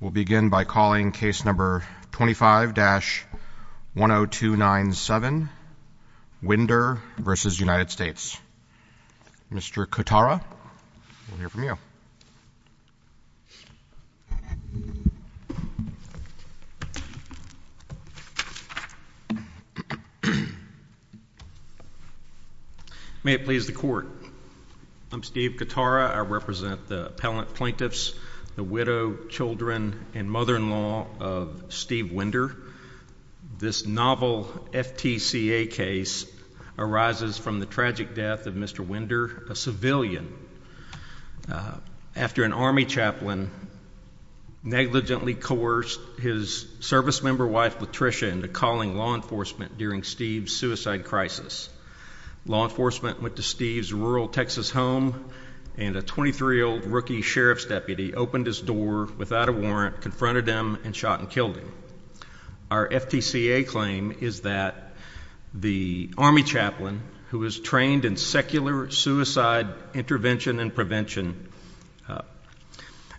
We'll begin by calling case number 25-10297, Winder v. United States. Mr. Katara, we'll hear from you. May it please the court. I'm Steve Katara. I represent the appellant plaintiffs, the widow, children, and mother-in-law of Steve Winder. This novel FTCA case arises from the tragic death of Mr. Winder, a civilian, after an Army chaplain negligently coerced his service member wife, Latricia, into calling law enforcement during Steve's suicide crisis. Law enforcement went to Steve's rural Texas home, and a 23-year-old rookie sheriff's deputy opened his door without a warrant, confronted him, and shot and killed him. Our FTCA claim is that the Army chaplain, who was trained in secular suicide intervention and prevention,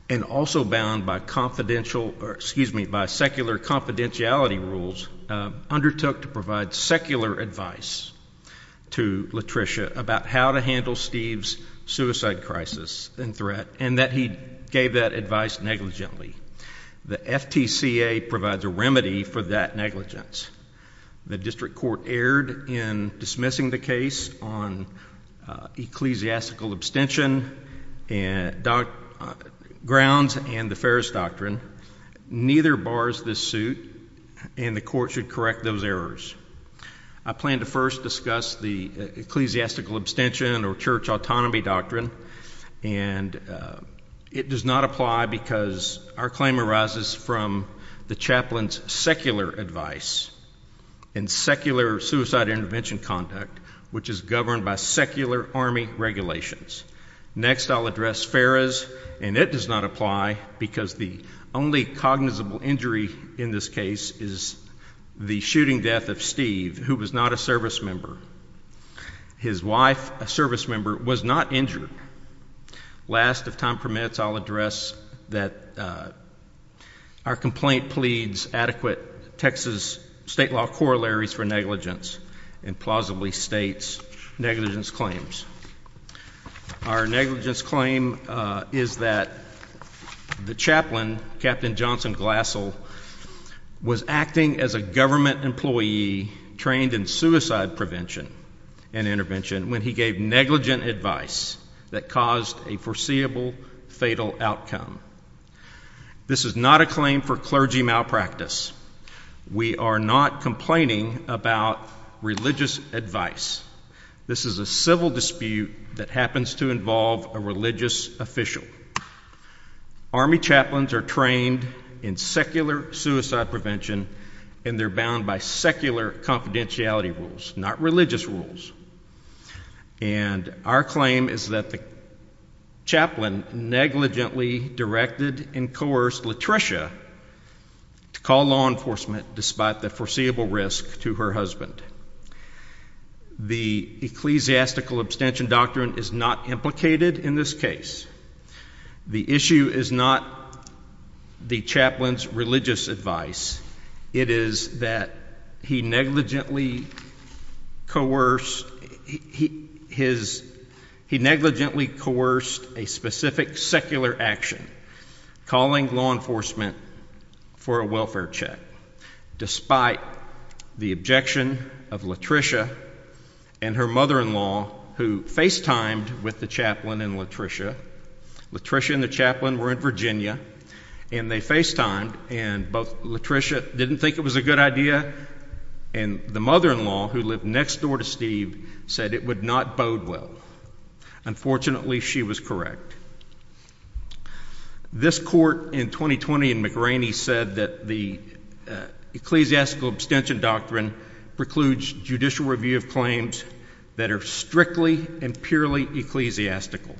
and also bound by confidential, excuse me, by secular confidentiality rules, undertook to provide secular advice to Latricia about how to handle Steve's suicide crisis and threat, and that he gave that advice negligently. The FTCA provides a remedy for that negligence. The district court erred in dismissing the case on ecclesiastical abstention grounds and the Ferris Doctrine. Neither bars this suit, and the court should correct those errors. I plan to first discuss the ecclesiastical abstention or church autonomy doctrine, and it does not apply because our claim arises from the chaplain's secular advice and secular suicide intervention conduct, which is governed by secular Army regulations. Next, I'll address Ferris, and it does not apply because the only cognizable injury in this case is the shooting death of Steve, who was not a service member. His wife, a service member, was not injured. Last, if time permits, I'll address that our complaint pleads adequate Texas state law corollaries for negligence and plausibly states negligence claims. Our negligence claim is that the chaplain, Captain Johnson Glassel, was acting as a government employee trained in suicide prevention and intervention when he gave negligent advice that caused a foreseeable fatal outcome. This is not a claim for clergy malpractice. We are not complaining about religious advice. This is a civil dispute that happens to involve a religious official. Army chaplains are trained in secular suicide prevention, and they're bound by secular confidentiality rules, not religious rules. And our claim is that the chaplain negligently directed and coerced Latricia to call law enforcement despite the foreseeable risk to her husband. The ecclesiastical abstention doctrine is not implicated in this case. The issue is not the chaplain's religious advice. It is that he negligently coerced a specific secular action, calling law enforcement for a welfare check despite the objection of Latricia and her mother-in-law, who FaceTimed with the chaplain and Latricia. Latricia and the chaplain were in Virginia, and they FaceTimed, and both Latricia didn't think it was a good idea, and the mother-in-law, who lived next door to Steve, said it would not bode well. Unfortunately, she was correct. This court in 2020 in McRaney said that the ecclesiastical abstention doctrine precludes judicial review of claims that are strictly and purely ecclesiastical.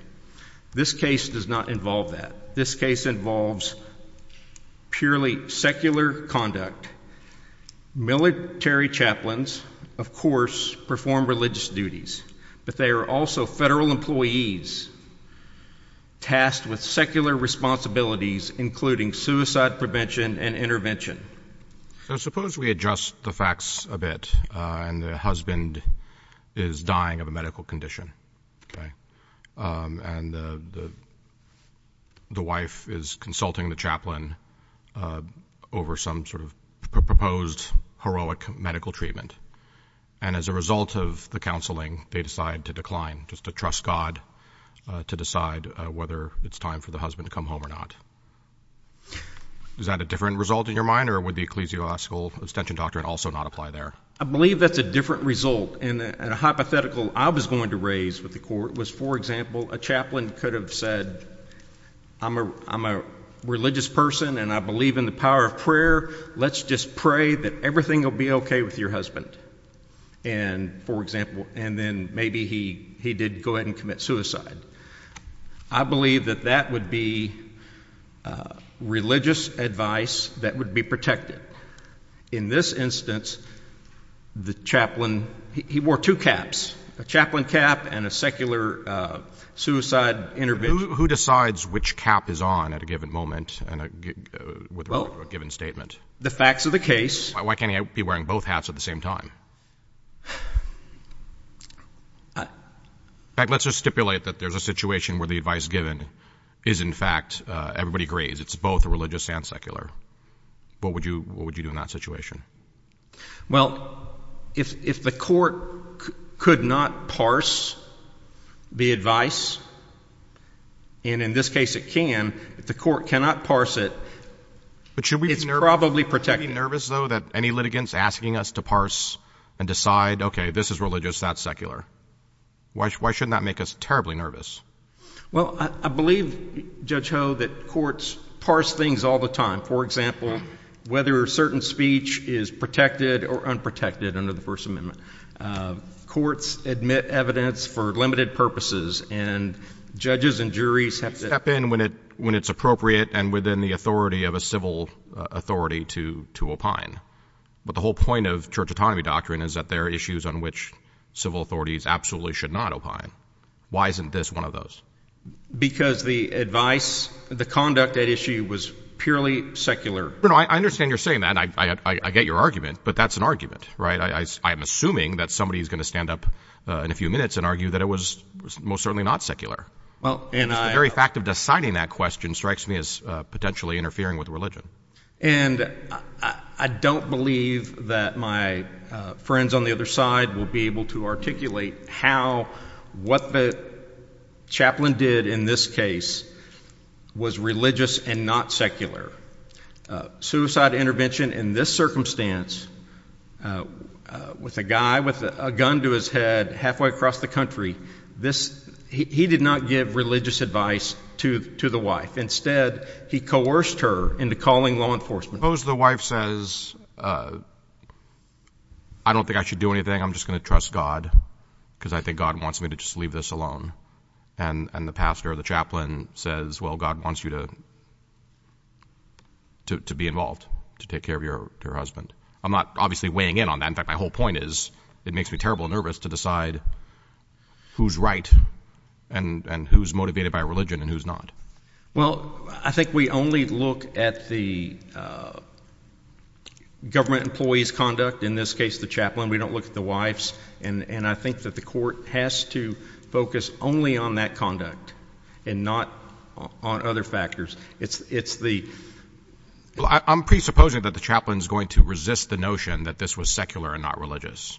This case does not involve that. This case involves purely secular conduct. Military chaplains, of course, perform religious duties, but they are also federal employees tasked with secular responsibilities, including suicide prevention and intervention. Suppose we adjust the facts a bit, and the husband is dying of a medical condition, and the wife is consulting the chaplain over some sort of proposed heroic medical treatment, and as a result of the counseling, they decide to decline, just to trust God to decide whether it's time for the husband to come home or not. Is that a different result in your mind, or would the ecclesiastical abstention doctrine also not apply there? I believe that's a different result, and a hypothetical I was going to raise with the court was, for example, a chaplain could have said, I'm a religious person, and I believe in the power of prayer. Let's just pray that everything will be okay with your husband. And then maybe he did go ahead and commit suicide. I believe that that would be religious advice that would be protected. In this instance, the chaplain, he wore two caps, a chaplain cap and a secular suicide intervention. Who decides which cap is on at a given moment with regard to a given statement? The facts of the case. Why can't he be wearing both hats at the same time? In fact, let's just stipulate that there's a situation where the advice given is, in fact, everybody agrees, it's both religious and secular. What would you do in that situation? Well, if the court could not parse the advice, and in this case it can, if the court cannot parse it, it's probably protected. Should we be nervous, though, that any litigants asking us to parse and decide, okay, this is religious, that's secular? Why shouldn't that make us terribly nervous? Well, I believe, Judge Ho, that courts parse things all the time. For example, whether a certain speech is protected or unprotected under the First Amendment. Courts admit evidence for limited purposes, and judges and juries have to step in when it's appropriate and within the authority of a civil authority to opine. But the whole point of church autonomy doctrine is that there are issues on which civil authorities absolutely should not opine. Why isn't this one of those? Because the advice, the conduct at issue was purely secular. I understand you're saying that, and I get your argument, but that's an argument, right? I'm assuming that somebody is going to stand up in a few minutes and argue that it was most certainly not secular. The very fact of deciding that question strikes me as potentially interfering with religion. And I don't believe that my friends on the other side will be able to articulate how what the chaplain did in this case was religious and not secular. Suicide intervention in this circumstance with a guy with a gun to his head halfway across the country, he did not give religious advice to the wife. Instead, he coerced her into calling law enforcement. Suppose the wife says, I don't think I should do anything. I'm just going to trust God because I think God wants me to just leave this alone. And the pastor or the chaplain says, well, God wants you to be involved, to take care of your husband. I'm not obviously weighing in on that. In fact, my whole point is it makes me terrible nervous to decide who's right and who's motivated by religion and who's not. Well, I think we only look at the government employee's conduct, in this case the chaplain. We don't look at the wife's. And I think that the court has to focus only on that conduct and not on other factors. I'm presupposing that the chaplain is going to resist the notion that this was secular and not religious.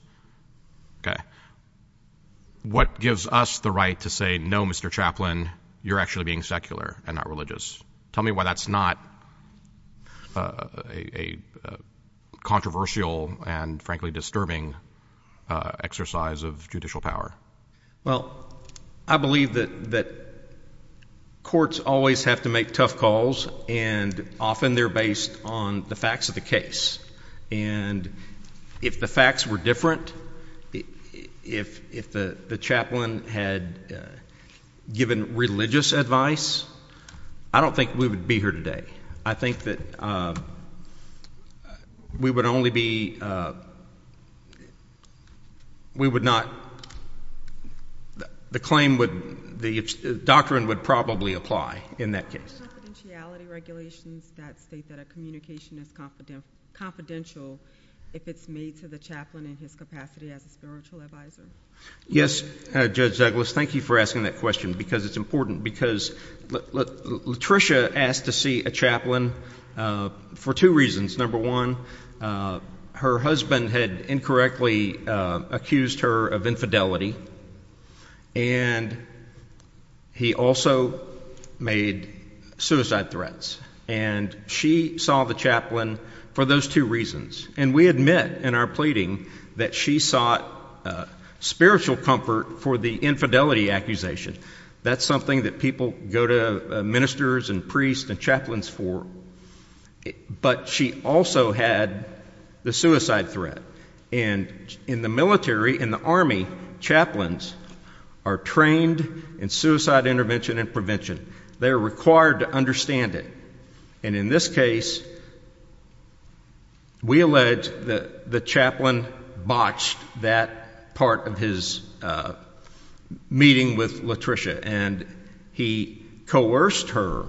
What gives us the right to say, no, Mr. Chaplain, you're actually being secular and not religious? Tell me why that's not a controversial and, frankly, disturbing exercise of judicial power. Well, I believe that courts always have to make tough calls, and often they're based on the facts of the case. And if the facts were different, if the chaplain had given religious advice, I don't think we would be here today. I think that we would only be, we would not, the claim would, the doctrine would probably apply in that case. Are there confidentiality regulations that state that a communication is confidential if it's made to the chaplain in his capacity as a spiritual advisor? Yes, Judge Douglas, thank you for asking that question, because it's important. Because Latricia asked to see a chaplain for two reasons. Number one, her husband had incorrectly accused her of infidelity, and he also made suicide threats. And she saw the chaplain for those two reasons. And we admit in our pleading that she sought spiritual comfort for the infidelity accusation. That's something that people go to ministers and priests and chaplains for. But she also had the suicide threat. And in the military, in the Army, chaplains are trained in suicide intervention and prevention. They are required to understand it. And in this case, we allege that the chaplain botched that part of his meeting with Latricia. And he coerced her.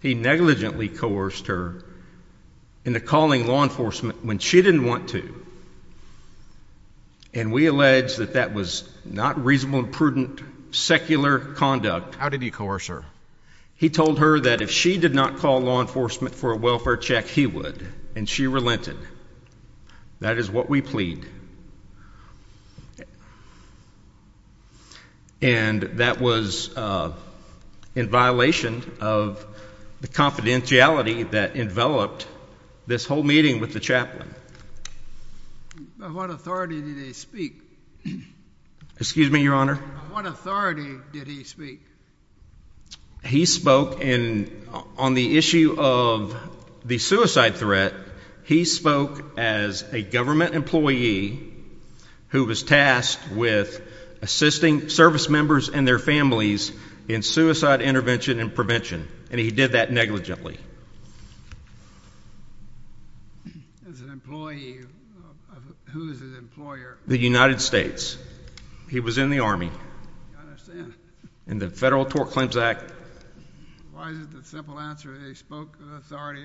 He negligently coerced her into calling law enforcement when she didn't want to. And we allege that that was not reasonable and prudent secular conduct. How did he coerce her? He told her that if she did not call law enforcement for a welfare check, he would, and she relented. That is what we plead. And that was in violation of the confidentiality that enveloped this whole meeting with the chaplain. By what authority did he speak? Excuse me, Your Honor? By what authority did he speak? He spoke on the issue of the suicide threat. He spoke as a government employee who was tasked with assisting service members and their families in suicide intervention and prevention. And he did that negligently. As an employee, who is his employer? The United States. He was in the Army. I understand. In the Federal Tort Claims Act. Why is it the simple answer? He spoke on the authority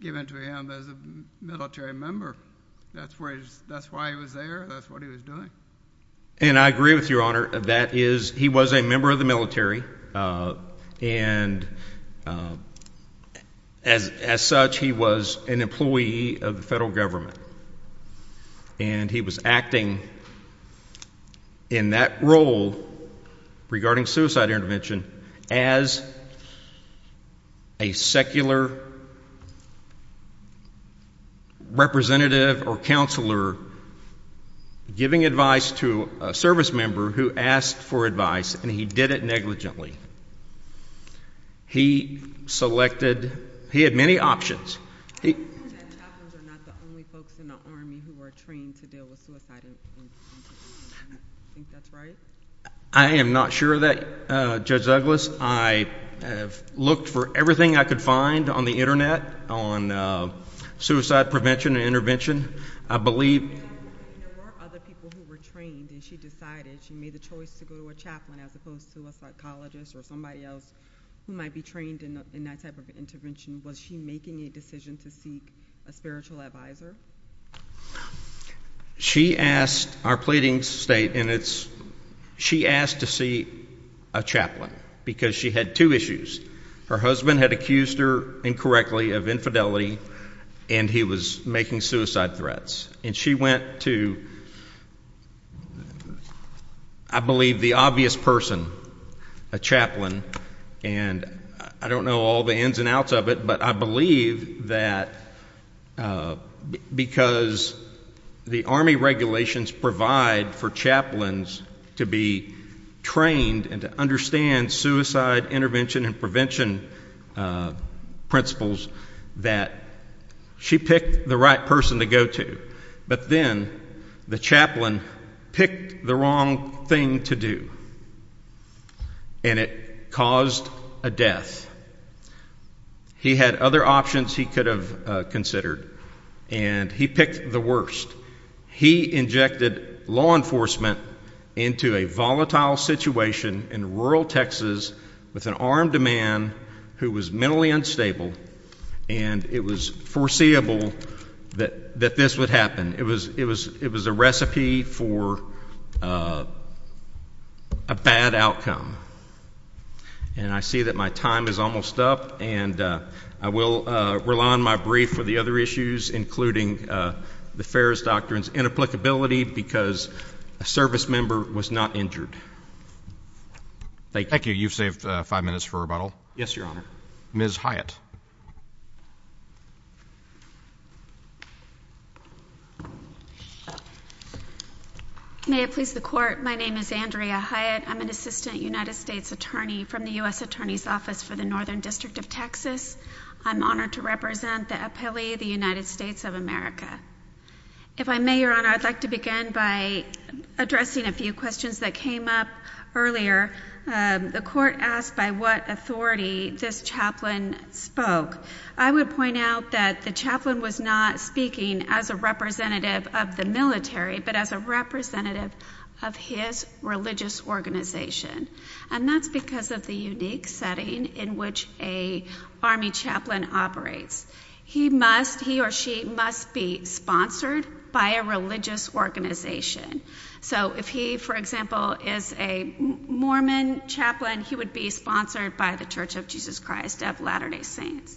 given to him as a military member. That's why he was there? That's what he was doing? And I agree with you, Your Honor. That is, he was a member of the military. And as such, he was an employee of the federal government. And he was acting in that role regarding suicide intervention as a secular representative or counselor giving advice to a service member who asked for advice. And he did it negligently. He selected, he had many options. I believe that chaplains are not the only folks in the Army who are trained to deal with suicide. Do you think that's right? I am not sure of that, Judge Douglas. I have looked for everything I could find on the Internet on suicide prevention and intervention. I believe there were other people who were trained and she decided, she made the choice to go to a chaplain as opposed to a psychologist or somebody else who might be trained in that type of intervention. Was she making a decision to seek a spiritual advisor? She asked, our pleadings state, and it's she asked to see a chaplain because she had two issues. Her husband had accused her incorrectly of infidelity, and he was making suicide threats. And she went to, I believe, the obvious person, a chaplain, and I don't know all the ins and outs of it, but I believe that because the Army regulations provide for chaplains to be trained and to understand suicide intervention and prevention principles, that she picked the right person to go to. But then the chaplain picked the wrong thing to do, and it caused a death. He had other options he could have considered, and he picked the worst. He injected law enforcement into a volatile situation in rural Texas with an armed man who was mentally unstable, and it was foreseeable that this would happen. It was a recipe for a bad outcome. And I see that my time is almost up, and I will rely on my brief for the other issues, including the Ferris Doctrine's inapplicability because a service member was not injured. Thank you. Thank you. You've saved five minutes for rebuttal. Yes, Your Honor. Ms. Hyatt. May it please the Court. My name is Andrea Hyatt. I'm an assistant United States attorney from the U.S. Attorney's Office for the Northern District of Texas. I'm honored to represent the appellee, the United States of America. If I may, Your Honor, I'd like to begin by addressing a few questions that came up earlier. The Court asked by what authority this chaplain spoke. I would point out that the chaplain was not speaking as a representative of the military, but as a representative of his religious organization, and that's because of the unique setting in which an Army chaplain operates. He must, he or she must be sponsored by a religious organization. So if he, for example, is a Mormon chaplain, he would be sponsored by the Church of Jesus Christ of Latter-day Saints.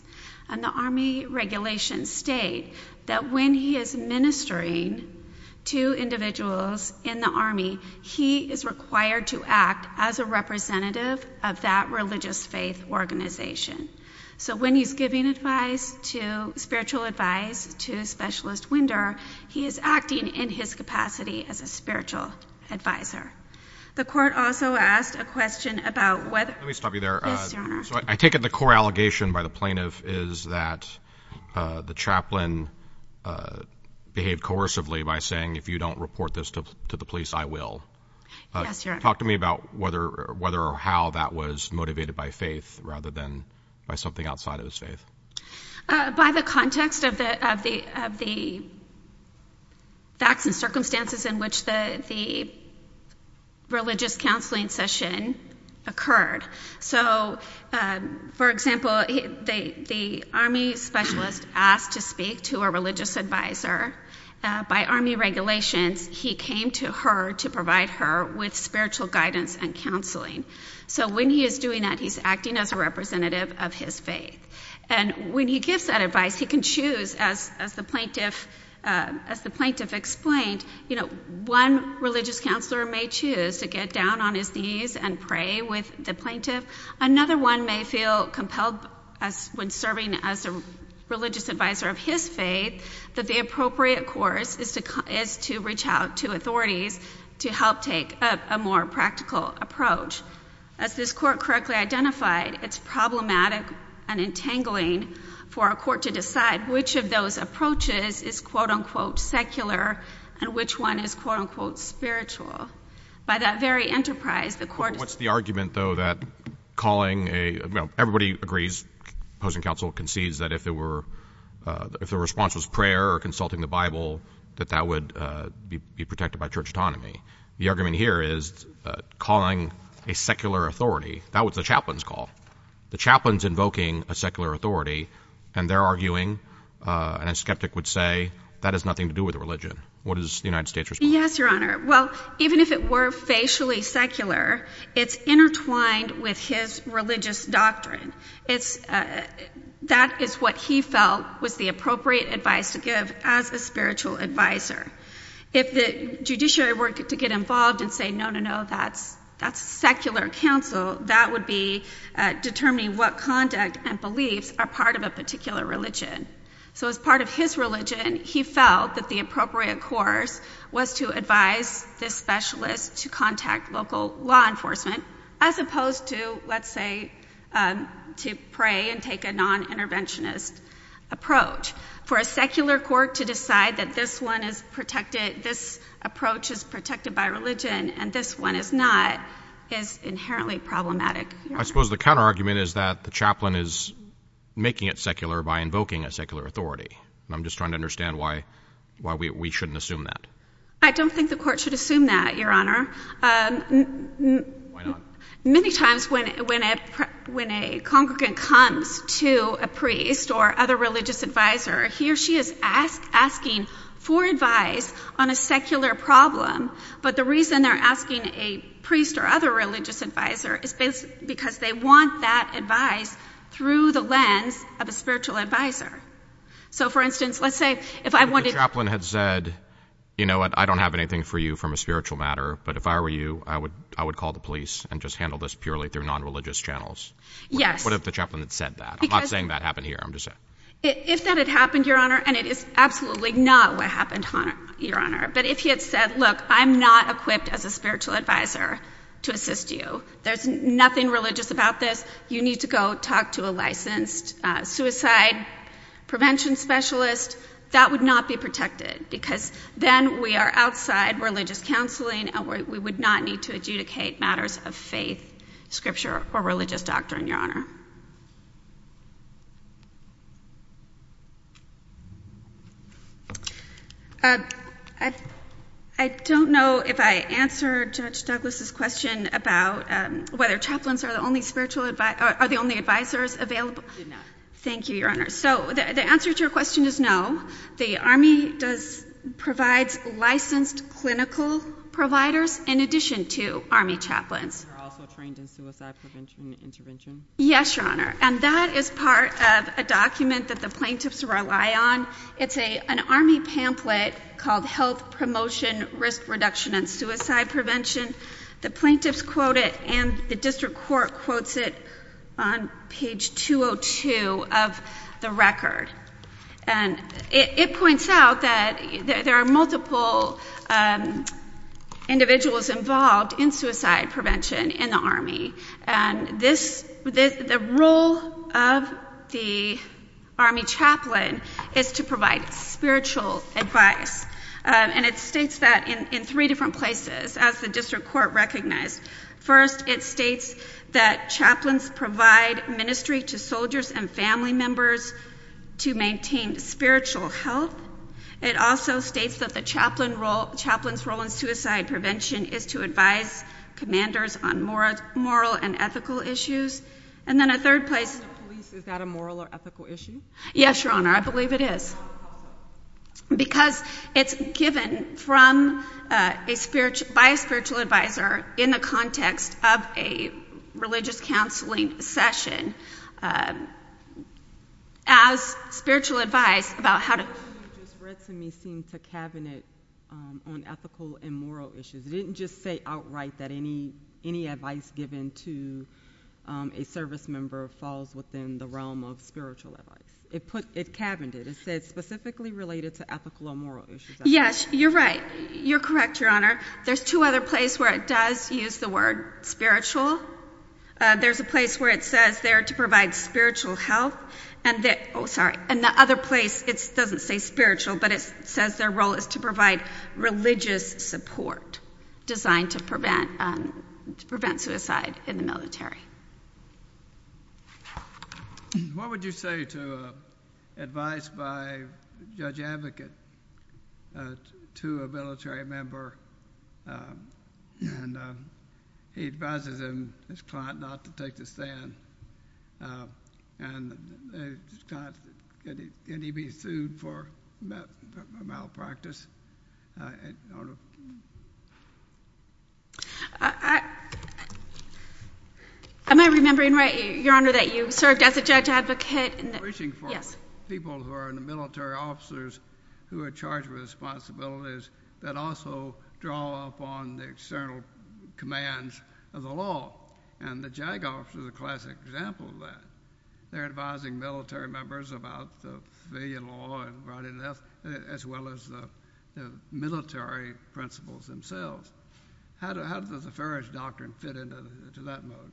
And the Army regulations state that when he is ministering to individuals in the Army, he is required to act as a representative of that religious faith organization. So when he's giving advice to, spiritual advice to Specialist Winder, he is acting in his capacity as a spiritual advisor. The Court also asked a question about whether— Let me stop you there. Yes, Your Honor. So I take it the core allegation by the plaintiff is that the chaplain behaved coercively by saying, if you don't report this to the police, I will. Yes, Your Honor. Can you talk to me about whether or how that was motivated by faith rather than by something outside of his faith? By the context of the facts and circumstances in which the religious counseling session occurred. So, for example, the Army specialist asked to speak to a religious advisor. By Army regulations, he came to her to provide her with spiritual guidance and counseling. So when he is doing that, he's acting as a representative of his faith. And when he gives that advice, he can choose, as the plaintiff explained, one religious counselor may choose to get down on his knees and pray with the plaintiff. Another one may feel compelled when serving as a religious advisor of his faith that the appropriate course is to reach out to authorities to help take a more practical approach. As this Court correctly identified, it's problematic and entangling for a court to decide which of those approaches is, quote-unquote, secular and which one is, quote-unquote, spiritual. By that very enterprise, the Court— The argument, though, that calling a—you know, everybody agrees, opposing counsel concedes, that if the response was prayer or consulting the Bible, that that would be protected by church autonomy. The argument here is calling a secular authority. That was the chaplain's call. The chaplain's invoking a secular authority, and they're arguing, and a skeptic would say, that has nothing to do with religion. What is the United States' response? Yes, Your Honor. Well, even if it were facially secular, it's intertwined with his religious doctrine. That is what he felt was the appropriate advice to give as a spiritual advisor. If the judiciary were to get involved and say, no, no, no, that's secular counsel, that would be determining what conduct and beliefs are part of a particular religion. So as part of his religion, he felt that the appropriate course was to advise this specialist to contact local law enforcement, as opposed to, let's say, to pray and take a non-interventionist approach. For a secular court to decide that this one is protected, this approach is protected by religion, and this one is not, is inherently problematic. I suppose the counterargument is that the chaplain is making it secular by invoking a secular authority. I'm just trying to understand why we shouldn't assume that. I don't think the Court should assume that, Your Honor. Why not? Many times when a congregant comes to a priest or other religious advisor, he or she is asking for advice on a secular problem, but the reason they're asking a priest or other religious advisor is because they want that advice through the lens of a spiritual advisor. So, for instance, let's say if I wanted... If the chaplain had said, you know what, I don't have anything for you from a spiritual matter, but if I were you, I would call the police and just handle this purely through non-religious channels. Yes. What if the chaplain had said that? I'm not saying that happened here. If that had happened, Your Honor, and it is absolutely not what happened, Your Honor, but if he had said, look, I'm not equipped as a spiritual advisor to assist you, there's nothing religious about this, you need to go talk to a licensed suicide prevention specialist, that would not be protected because then we are outside religious counseling and we would not need to adjudicate matters of faith, scripture, or religious doctrine, Your Honor. I don't know if I answered Judge Douglas' question about whether chaplains are the only spiritual advisors, are the only advisors available. You did not. Thank you, Your Honor. So the answer to your question is no. The Army provides licensed clinical providers in addition to Army chaplains. Are they also trained in suicide prevention and intervention? Yes, Your Honor, and that is part of a document that the plaintiffs rely on. It's an Army pamphlet called Health Promotion, Risk Reduction, and Suicide Prevention. The plaintiffs quote it and the district court quotes it on page 202 of the record. And it points out that there are multiple individuals involved in suicide prevention in the Army, and the role of the Army chaplain is to provide spiritual advice. And it states that in three different places, as the district court recognized. First, it states that chaplains provide ministry to soldiers and family members to maintain spiritual health. It also states that the chaplain's role in suicide prevention is to advise commanders on moral and ethical issues. And then a third place. Is that a moral or ethical issue? Yes, Your Honor, I believe it is. Because it's given by a spiritual advisor in the context of a religious counseling session as spiritual advice about how to... What you just read to me seems to cabinet on ethical and moral issues. It didn't just say outright that any advice given to a service member falls within the realm of spiritual advice. It cabineted. It said specifically related to ethical and moral issues. Yes, you're right. You're correct, Your Honor. There's two other places where it does use the word spiritual. There's a place where it says they're to provide spiritual help. And the other place, it doesn't say spiritual, but it says their role is to provide religious support designed to prevent suicide in the military. What would you say to advice by a judge advocate to a military member? And he advises him, his client, not to take the stand. And can he be sued for malpractice? I don't know. Am I remembering right, Your Honor, that you served as a judge advocate? I'm reaching for people who are military officers who are charged with responsibilities that also draw upon the external commands of the law. And the JAG officer is a classic example of that. They're advising military members about the civilian law as well as the military principles themselves. How does the Ferris Doctrine fit into that mode?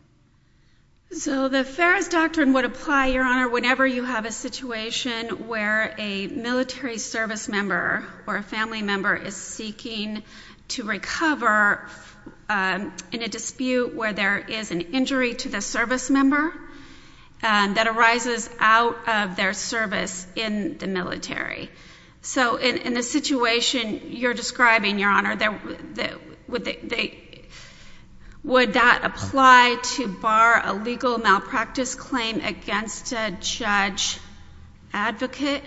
So the Ferris Doctrine would apply, Your Honor, whenever you have a situation where a military service member or a family member is seeking to recover in a dispute where there is an injury to the service member that arises out of their service in the military. So in the situation you're describing, Your Honor, would that apply to bar a legal malpractice claim against a judge advocate?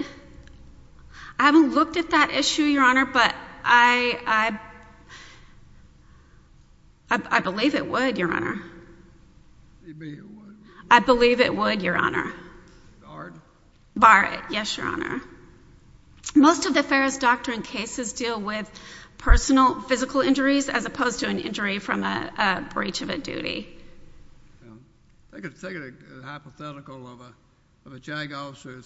I haven't looked at that issue, Your Honor, but I believe it would, Your Honor. You believe it would? I believe it would, Your Honor. Bar it? Bar it, yes, Your Honor. Most of the Ferris Doctrine cases deal with personal physical injuries as opposed to an injury from a breach of a duty. Take a hypothetical of a JAG officer.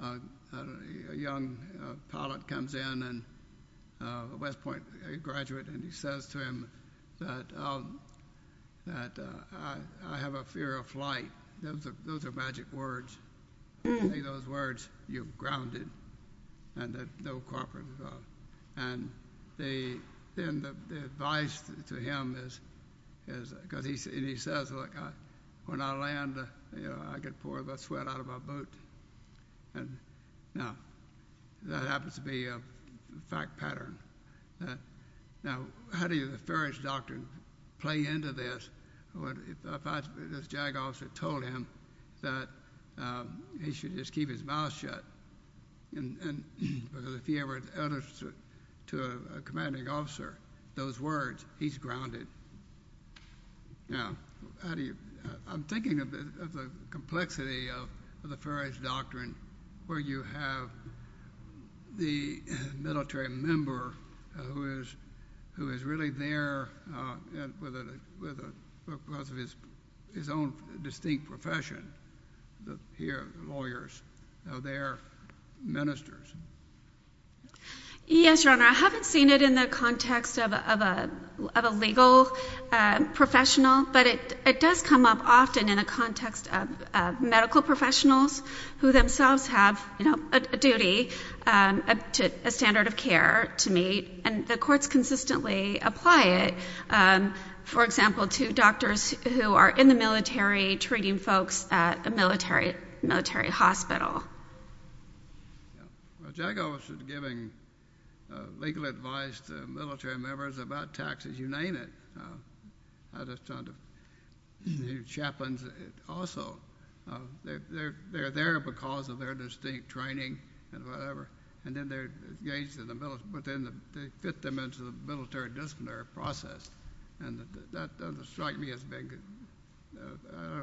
A young pilot comes in, a West Point graduate, and he says to him that I have a fear of flight. Those are magic words. You say those words, you're grounded. And there's no cooperation at all. And then the advice to him is, because he says, look, when I land, I could pour the sweat out of my boot. Now, that happens to be a fact pattern. Now, how do you, the Ferris Doctrine, play into this if this JAG officer told him that he should just keep his mouth shut? And if he ever utters to a commanding officer those words, he's grounded. Now, how do you, I'm thinking of the complexity of the Ferris Doctrine where you have the military member who is really there because of his own distinct profession, the lawyers, they are ministers. Yes, Your Honor, I haven't seen it in the context of a legal professional, but it does come up often in a context of medical professionals who themselves have a duty, a standard of care to meet, and the courts consistently apply it, for example, to doctors who are in the military treating folks at a military hospital. A JAG officer is giving legal advice to military members about taxes. You name it. The chaplains also, they're there because of their distinct training and whatever, and then they're engaged in the military, but then they fit them into the military disciplinary process, and that doesn't strike me as being,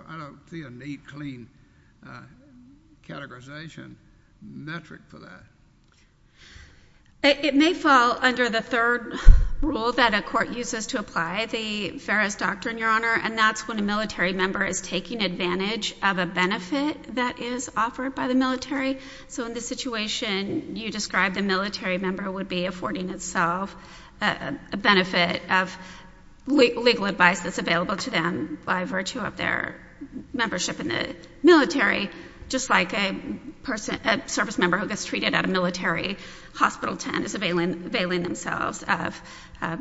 I don't see a neat, clean categorization metric for that. It may fall under the third rule that a court uses to apply the Ferris Doctrine, Your Honor, and that's when a military member is taking advantage of a benefit that is offered by the military. So in this situation, you describe the military member would be affording itself a benefit of legal advice that's available to them by virtue of their membership in the military, just like a person, a service member who gets treated at a military hospital tent is availing themselves of,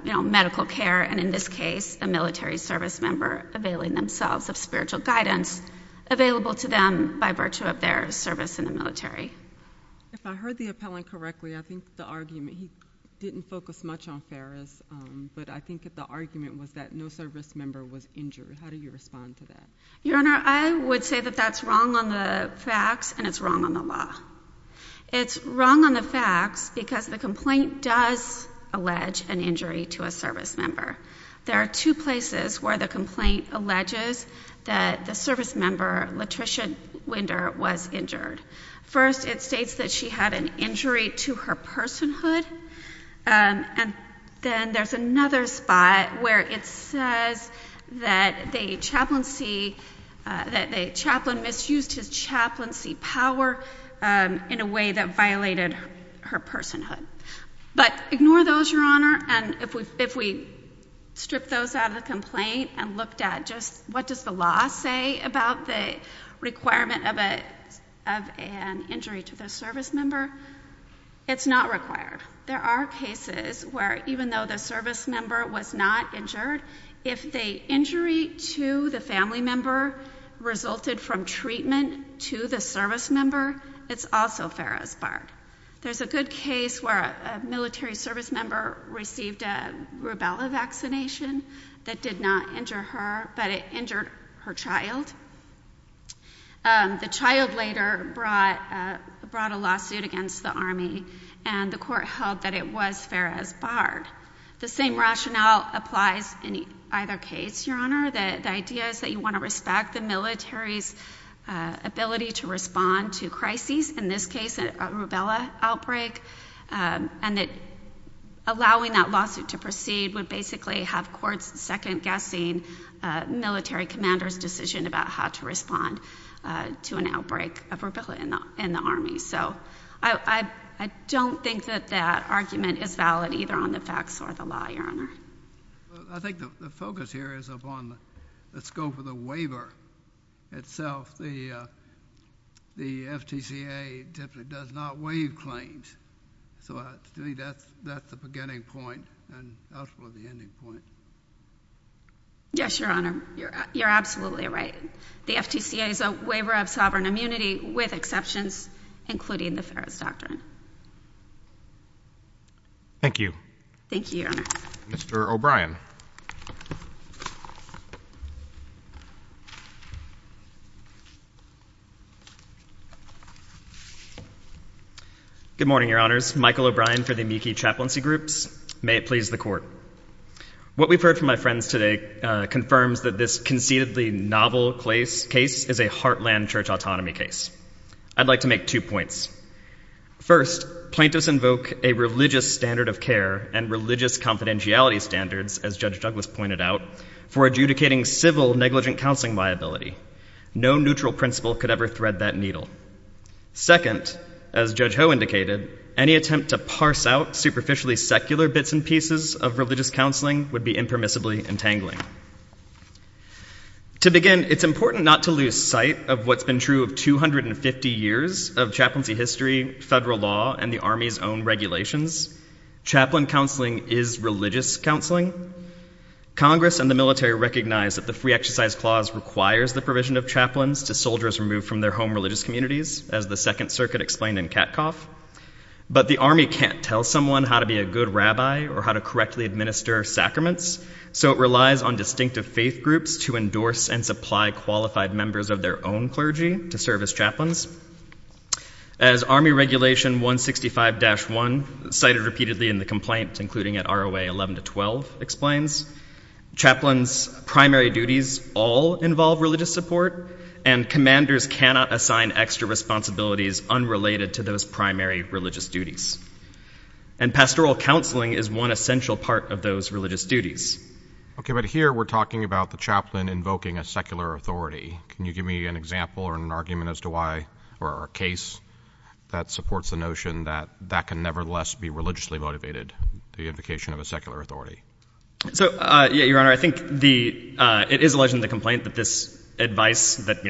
you know, medical care, and in this case, a military service member availing themselves of spiritual guidance available to them by virtue of their service in the military. If I heard the appellant correctly, I think the argument, he didn't focus much on Ferris, but I think the argument was that no service member was injured. How do you respond to that? Your Honor, I would say that that's wrong on the facts and it's wrong on the law. It's wrong on the facts because the complaint does allege an injury to a service member. There are two places where the complaint alleges that the service member, Latricia Winder, was injured. First, it states that she had an injury to her personhood, and then there's another spot where it says that the chaplain misused his chaplaincy power in a way that violated her personhood. But ignore those, Your Honor, and if we strip those out of the complaint and looked at just what does the law say about the requirement of an injury to the service member? It's not required. There are cases where even though the service member was not injured, if the injury to the family member resulted from treatment to the service member, it's also Ferris barred. There's a good case where a military service member received a rubella vaccination that did not injure her, but it injured her child. The child later brought a lawsuit against the Army, and the court held that it was Ferris barred. The same rationale applies in either case, Your Honor. The idea is that you want to respect the military's ability to respond to crises. In this case, a rubella outbreak, and that allowing that lawsuit to proceed would basically have courts second-guessing military commanders' decision about how to respond to an outbreak of rubella in the Army. So I don't think that that argument is valid either on the facts or the law, Your Honor. I think the focus here is upon the scope of the waiver itself. The FTCA typically does not waive claims, so I think that's the beginning point and ultimately the ending point. Yes, Your Honor. You're absolutely right. The FTCA is a waiver of sovereign immunity with exceptions, including the Ferris Doctrine. Thank you. Thank you, Your Honor. Mr. O'Brien. Good morning, Your Honors. Michael O'Brien for the Meeke Chaplaincy Groups. May it please the Court. What we've heard from my friends today confirms that this conceitedly novel case is a heartland church autonomy case. I'd like to make two points. First, plaintiffs invoke a religious standard of care and religious confidentiality standards, as Judge Douglas pointed out, for adjudicating civil negligent counseling liability. No neutral principle could ever thread that needle. Second, as Judge Ho indicated, any attempt to parse out superficially secular bits and pieces of religious counseling would be impermissibly entangling. To begin, it's important not to lose sight of what's been true of 250 years of chaplaincy history, federal law, and the Army's own regulations. Chaplain counseling is religious counseling. Congress and the military recognize that the Free Exercise Clause requires the provision of chaplains to soldiers removed from their home religious communities, as the Second Circuit explained in Katkoff. But the Army can't tell someone how to be a good rabbi or how to correctly administer sacraments, so it relies on distinctive faith groups to endorse and supply qualified members of their own clergy to serve as chaplains. As Army Regulation 165-1, cited repeatedly in the complaint, including at ROA 11-12, explains, chaplains' primary duties all involve religious support, and commanders cannot assign extra responsibilities unrelated to those primary religious duties. And pastoral counseling is one essential part of those religious duties. Okay, but here we're talking about the chaplain invoking a secular authority. Can you give me an example or an argument as to why or a case that supports the notion that that can nevertheless be religiously motivated, the invocation of a secular authority? So, yeah, Your Honor, I think it is alleged in the complaint that this advice, that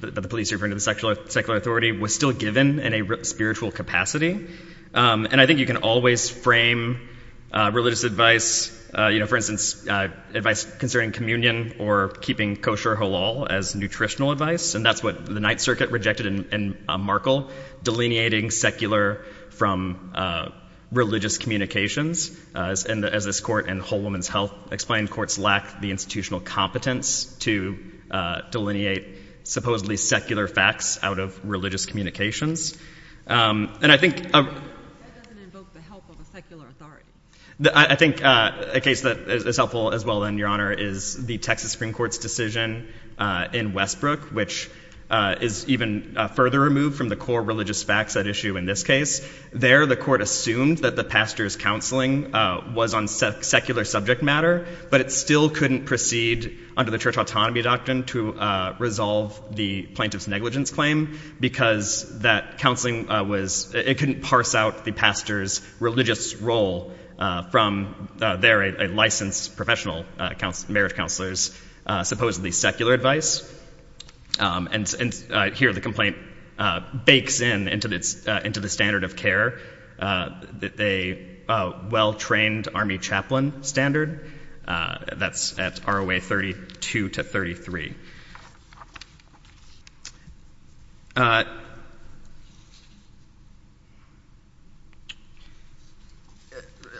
the police referring to the secular authority, was still given in a spiritual capacity. And I think you can always frame religious advice, you know, for instance, advice concerning communion or keeping kosher halal as nutritional advice, and that's what the Ninth Circuit rejected in Markle, delineating secular from religious communications. As this court in Whole Woman's Health explained, courts lack the institutional competence to delineate supposedly secular facts out of religious communications. And I think... That doesn't invoke the help of a secular authority. I think a case that is helpful as well, then, Your Honor, is the Texas Supreme Court's decision in Westbrook, which is even further removed from the core religious facts at issue in this case. There, the court assumed that the pastor's counseling was on secular subject matter, but it still couldn't proceed under the church autonomy doctrine to resolve the plaintiff's negligence claim, because that counseling was... It couldn't parse out the pastor's religious role from, there, a licensed professional marriage counselor's supposedly secular advice. And here, the complaint bakes in into the standard of care, a well-trained army chaplain standard that's at ROA 32 to 33.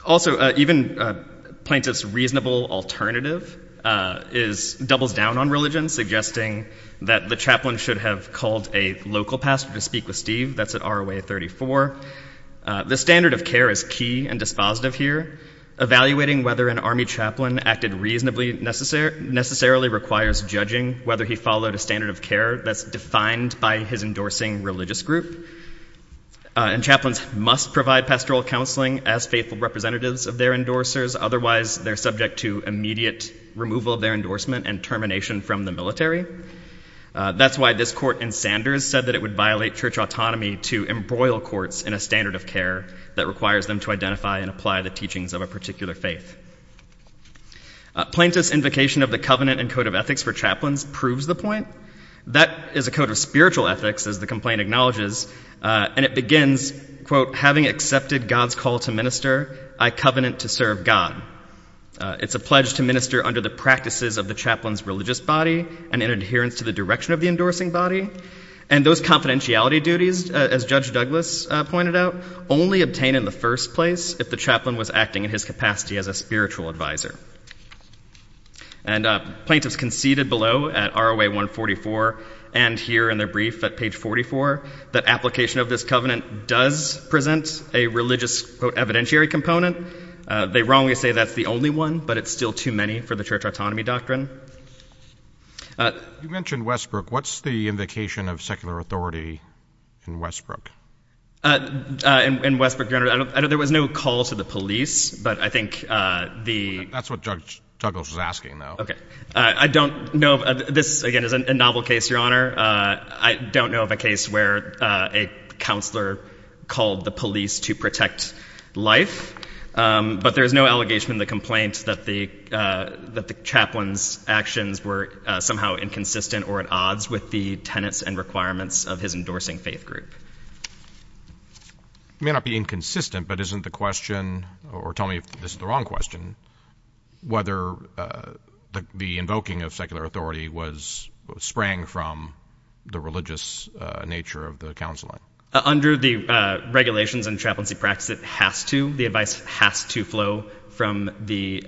Also, even plaintiff's reasonable alternative doubles down on religion, suggesting that the chaplain should have called a local pastor to speak with Steve. That's at ROA 34. The standard of care is key and dispositive here. Evaluating whether an army chaplain acted reasonably necessarily requires judging whether he followed a standard of care that's defined by his endorsing religious group. And chaplains must provide pastoral counseling as faithful representatives of their endorsers. Otherwise, they're subject to immediate removal of their endorsement and termination from the military. That's why this court in Sanders said that it would violate church autonomy to embroil courts in a standard of care that requires them to identify and apply the teachings of a particular faith. Plaintiff's invocation of the covenant and code of ethics for chaplains proves the point. That is a code of spiritual ethics, as the complaint acknowledges, and it begins, quote, having accepted God's call to minister, I covenant to serve God. It's a pledge to minister under the practices of the chaplain's religious body and in adherence to the direction of the endorsing body. And those confidentiality duties, as Judge Douglas pointed out, only obtain in the first place if the chaplain was acting in his capacity as a spiritual advisor. And plaintiffs conceded below at ROA 144 and here in their brief at page 44 that application of this covenant does present a religious, quote, evidentiary component. They wrongly say that's the only one, but it's still too many for the church autonomy doctrine. You mentioned Westbrook. What's the invocation of secular authority in Westbrook? In Westbrook, Your Honor, there was no call to the police, but I think the— That's what Judge Douglas was asking, though. Okay. I don't know. This, again, is a novel case, Your Honor. I don't know of a case where a counselor called the police to protect life, but there is no allegation in the complaint that the chaplain's actions were somehow inconsistent or at odds with the tenets and requirements of his endorsing faith group. It may not be inconsistent, but isn't the question, or tell me if this is the wrong question, whether the invoking of secular authority sprang from the religious nature of the counseling? Under the regulations and chaplaincy practice, it has to. The advice has to flow from the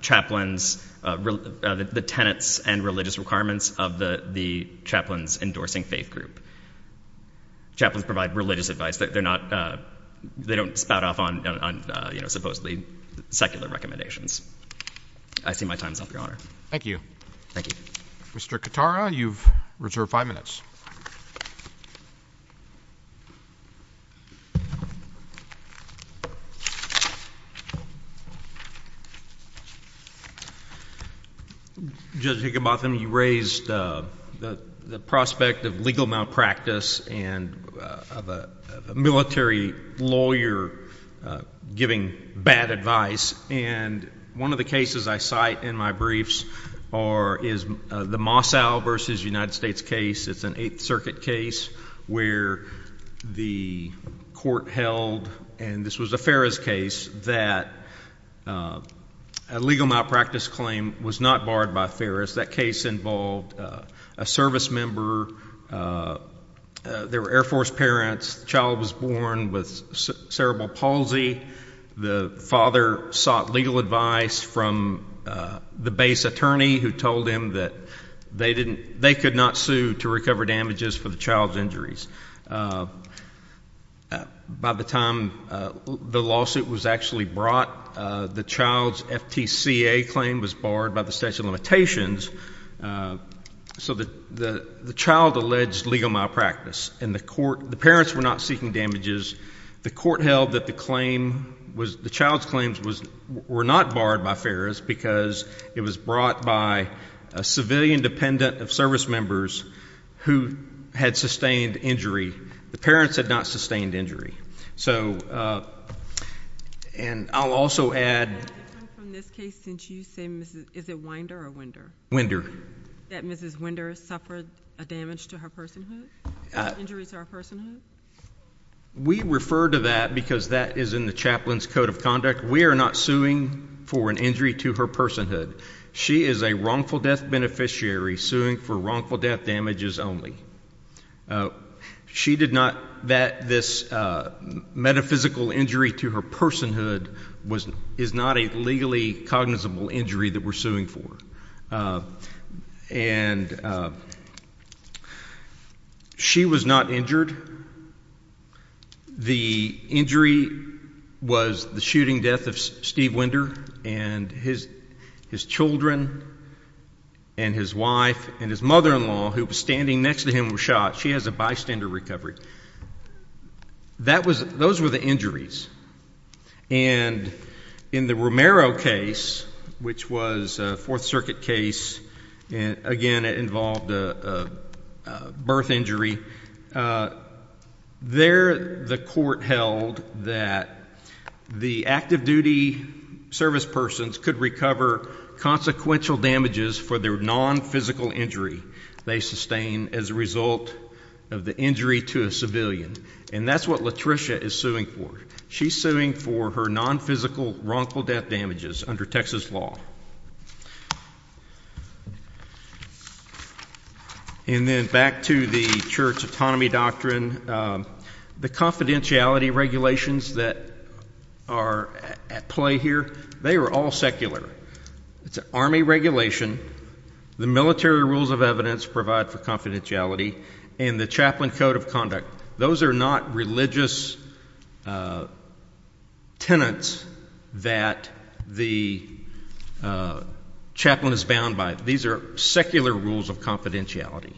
chaplain's—the tenets and religious requirements of the chaplain's endorsing faith group. Chaplains provide religious advice. They're not—they don't spout off on, you know, supposedly secular recommendations. I see my time's up, Your Honor. Thank you. Thank you. Mr. Katara, you've reserved five minutes. Judge Higginbotham, you raised the prospect of legal malpractice and of a military lawyer giving bad advice, and one of the cases I cite in my briefs is the Mossau v. United States case. It's an Eighth Circuit case where the court held, and this was a Ferris case, that a legal malpractice claim was not barred by Ferris. That case involved a service member. They were Air Force parents. The child was born with cerebral palsy. The father sought legal advice from the base attorney who told him that they could not sue to recover damages for the child's injuries. By the time the lawsuit was actually brought, the child's FTCA claim was barred by the statute of limitations, so the child alleged legal malpractice, and the parents were not seeking damages. The court held that the child's claims were not barred by Ferris because it was brought by a civilian dependent of service members who had sustained injury. The parents had not sustained injury. So, and I'll also add — Is that different from this case since you say, is it Winder or Winder? Winder. That Mrs. Winder suffered a damage to her personhood? Injuries to her personhood? We refer to that because that is in the chaplain's code of conduct. We are not suing for an injury to her personhood. She is a wrongful death beneficiary suing for wrongful death damages only. She did not, that this metaphysical injury to her personhood is not a legally cognizable injury that we're suing for. And she was not injured. The injury was the shooting death of Steve Winder and his children and his wife and his mother-in-law, who was standing next to him, were shot. She has a bystander recovery. Those were the injuries. And in the Romero case, which was a Fourth Circuit case, again it involved a birth injury, there the court held that the active duty service persons could recover consequential damages for their non-physical injury they sustained as a result of the injury to a civilian. And that's what Latricia is suing for. She's suing for her non-physical wrongful death damages under Texas law. And then back to the church autonomy doctrine. The confidentiality regulations that are at play here, they are all secular. It's an Army regulation. The military rules of evidence provide for confidentiality and the chaplain code of conduct. Those are not religious tenets that the chaplain is bound by. These are secular rules of confidentiality.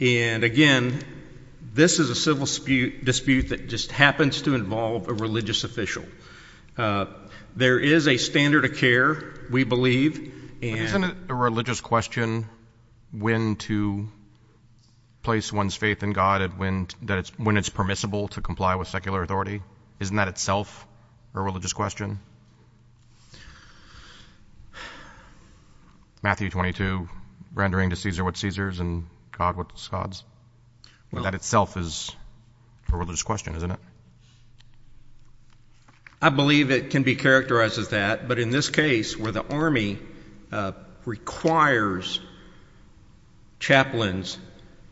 And, again, this is a civil dispute that just happens to involve a religious official. There is a standard of care, we believe. Isn't it a religious question when to place one's faith in God and when it's permissible to comply with secular authority? Isn't that itself a religious question? Matthew 22, rendering to Caesar what Caesar's and God what God's. That itself is a religious question, isn't it? I believe it can be characterized as that. But in this case where the Army requires chaplains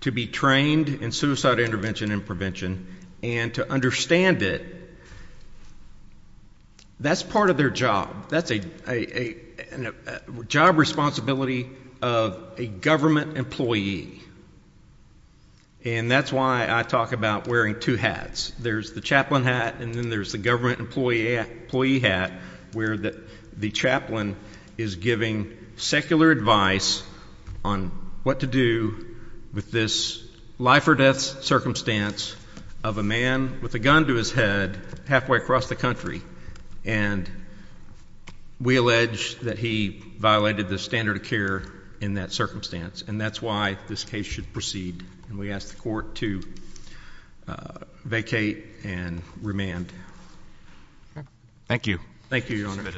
to be trained in suicide intervention and prevention and to understand it, that's part of their job. That's a job responsibility of a government employee. And that's why I talk about wearing two hats. There's the chaplain hat and then there's the government employee hat, where the chaplain is giving secular advice on what to do with this life-or-death circumstance of a man with a gun to his head halfway across the country. And we allege that he violated the standard of care in that circumstance. And that's why this case should proceed. And we ask the court to vacate and remand. Thank you. Thank you, Your Honor.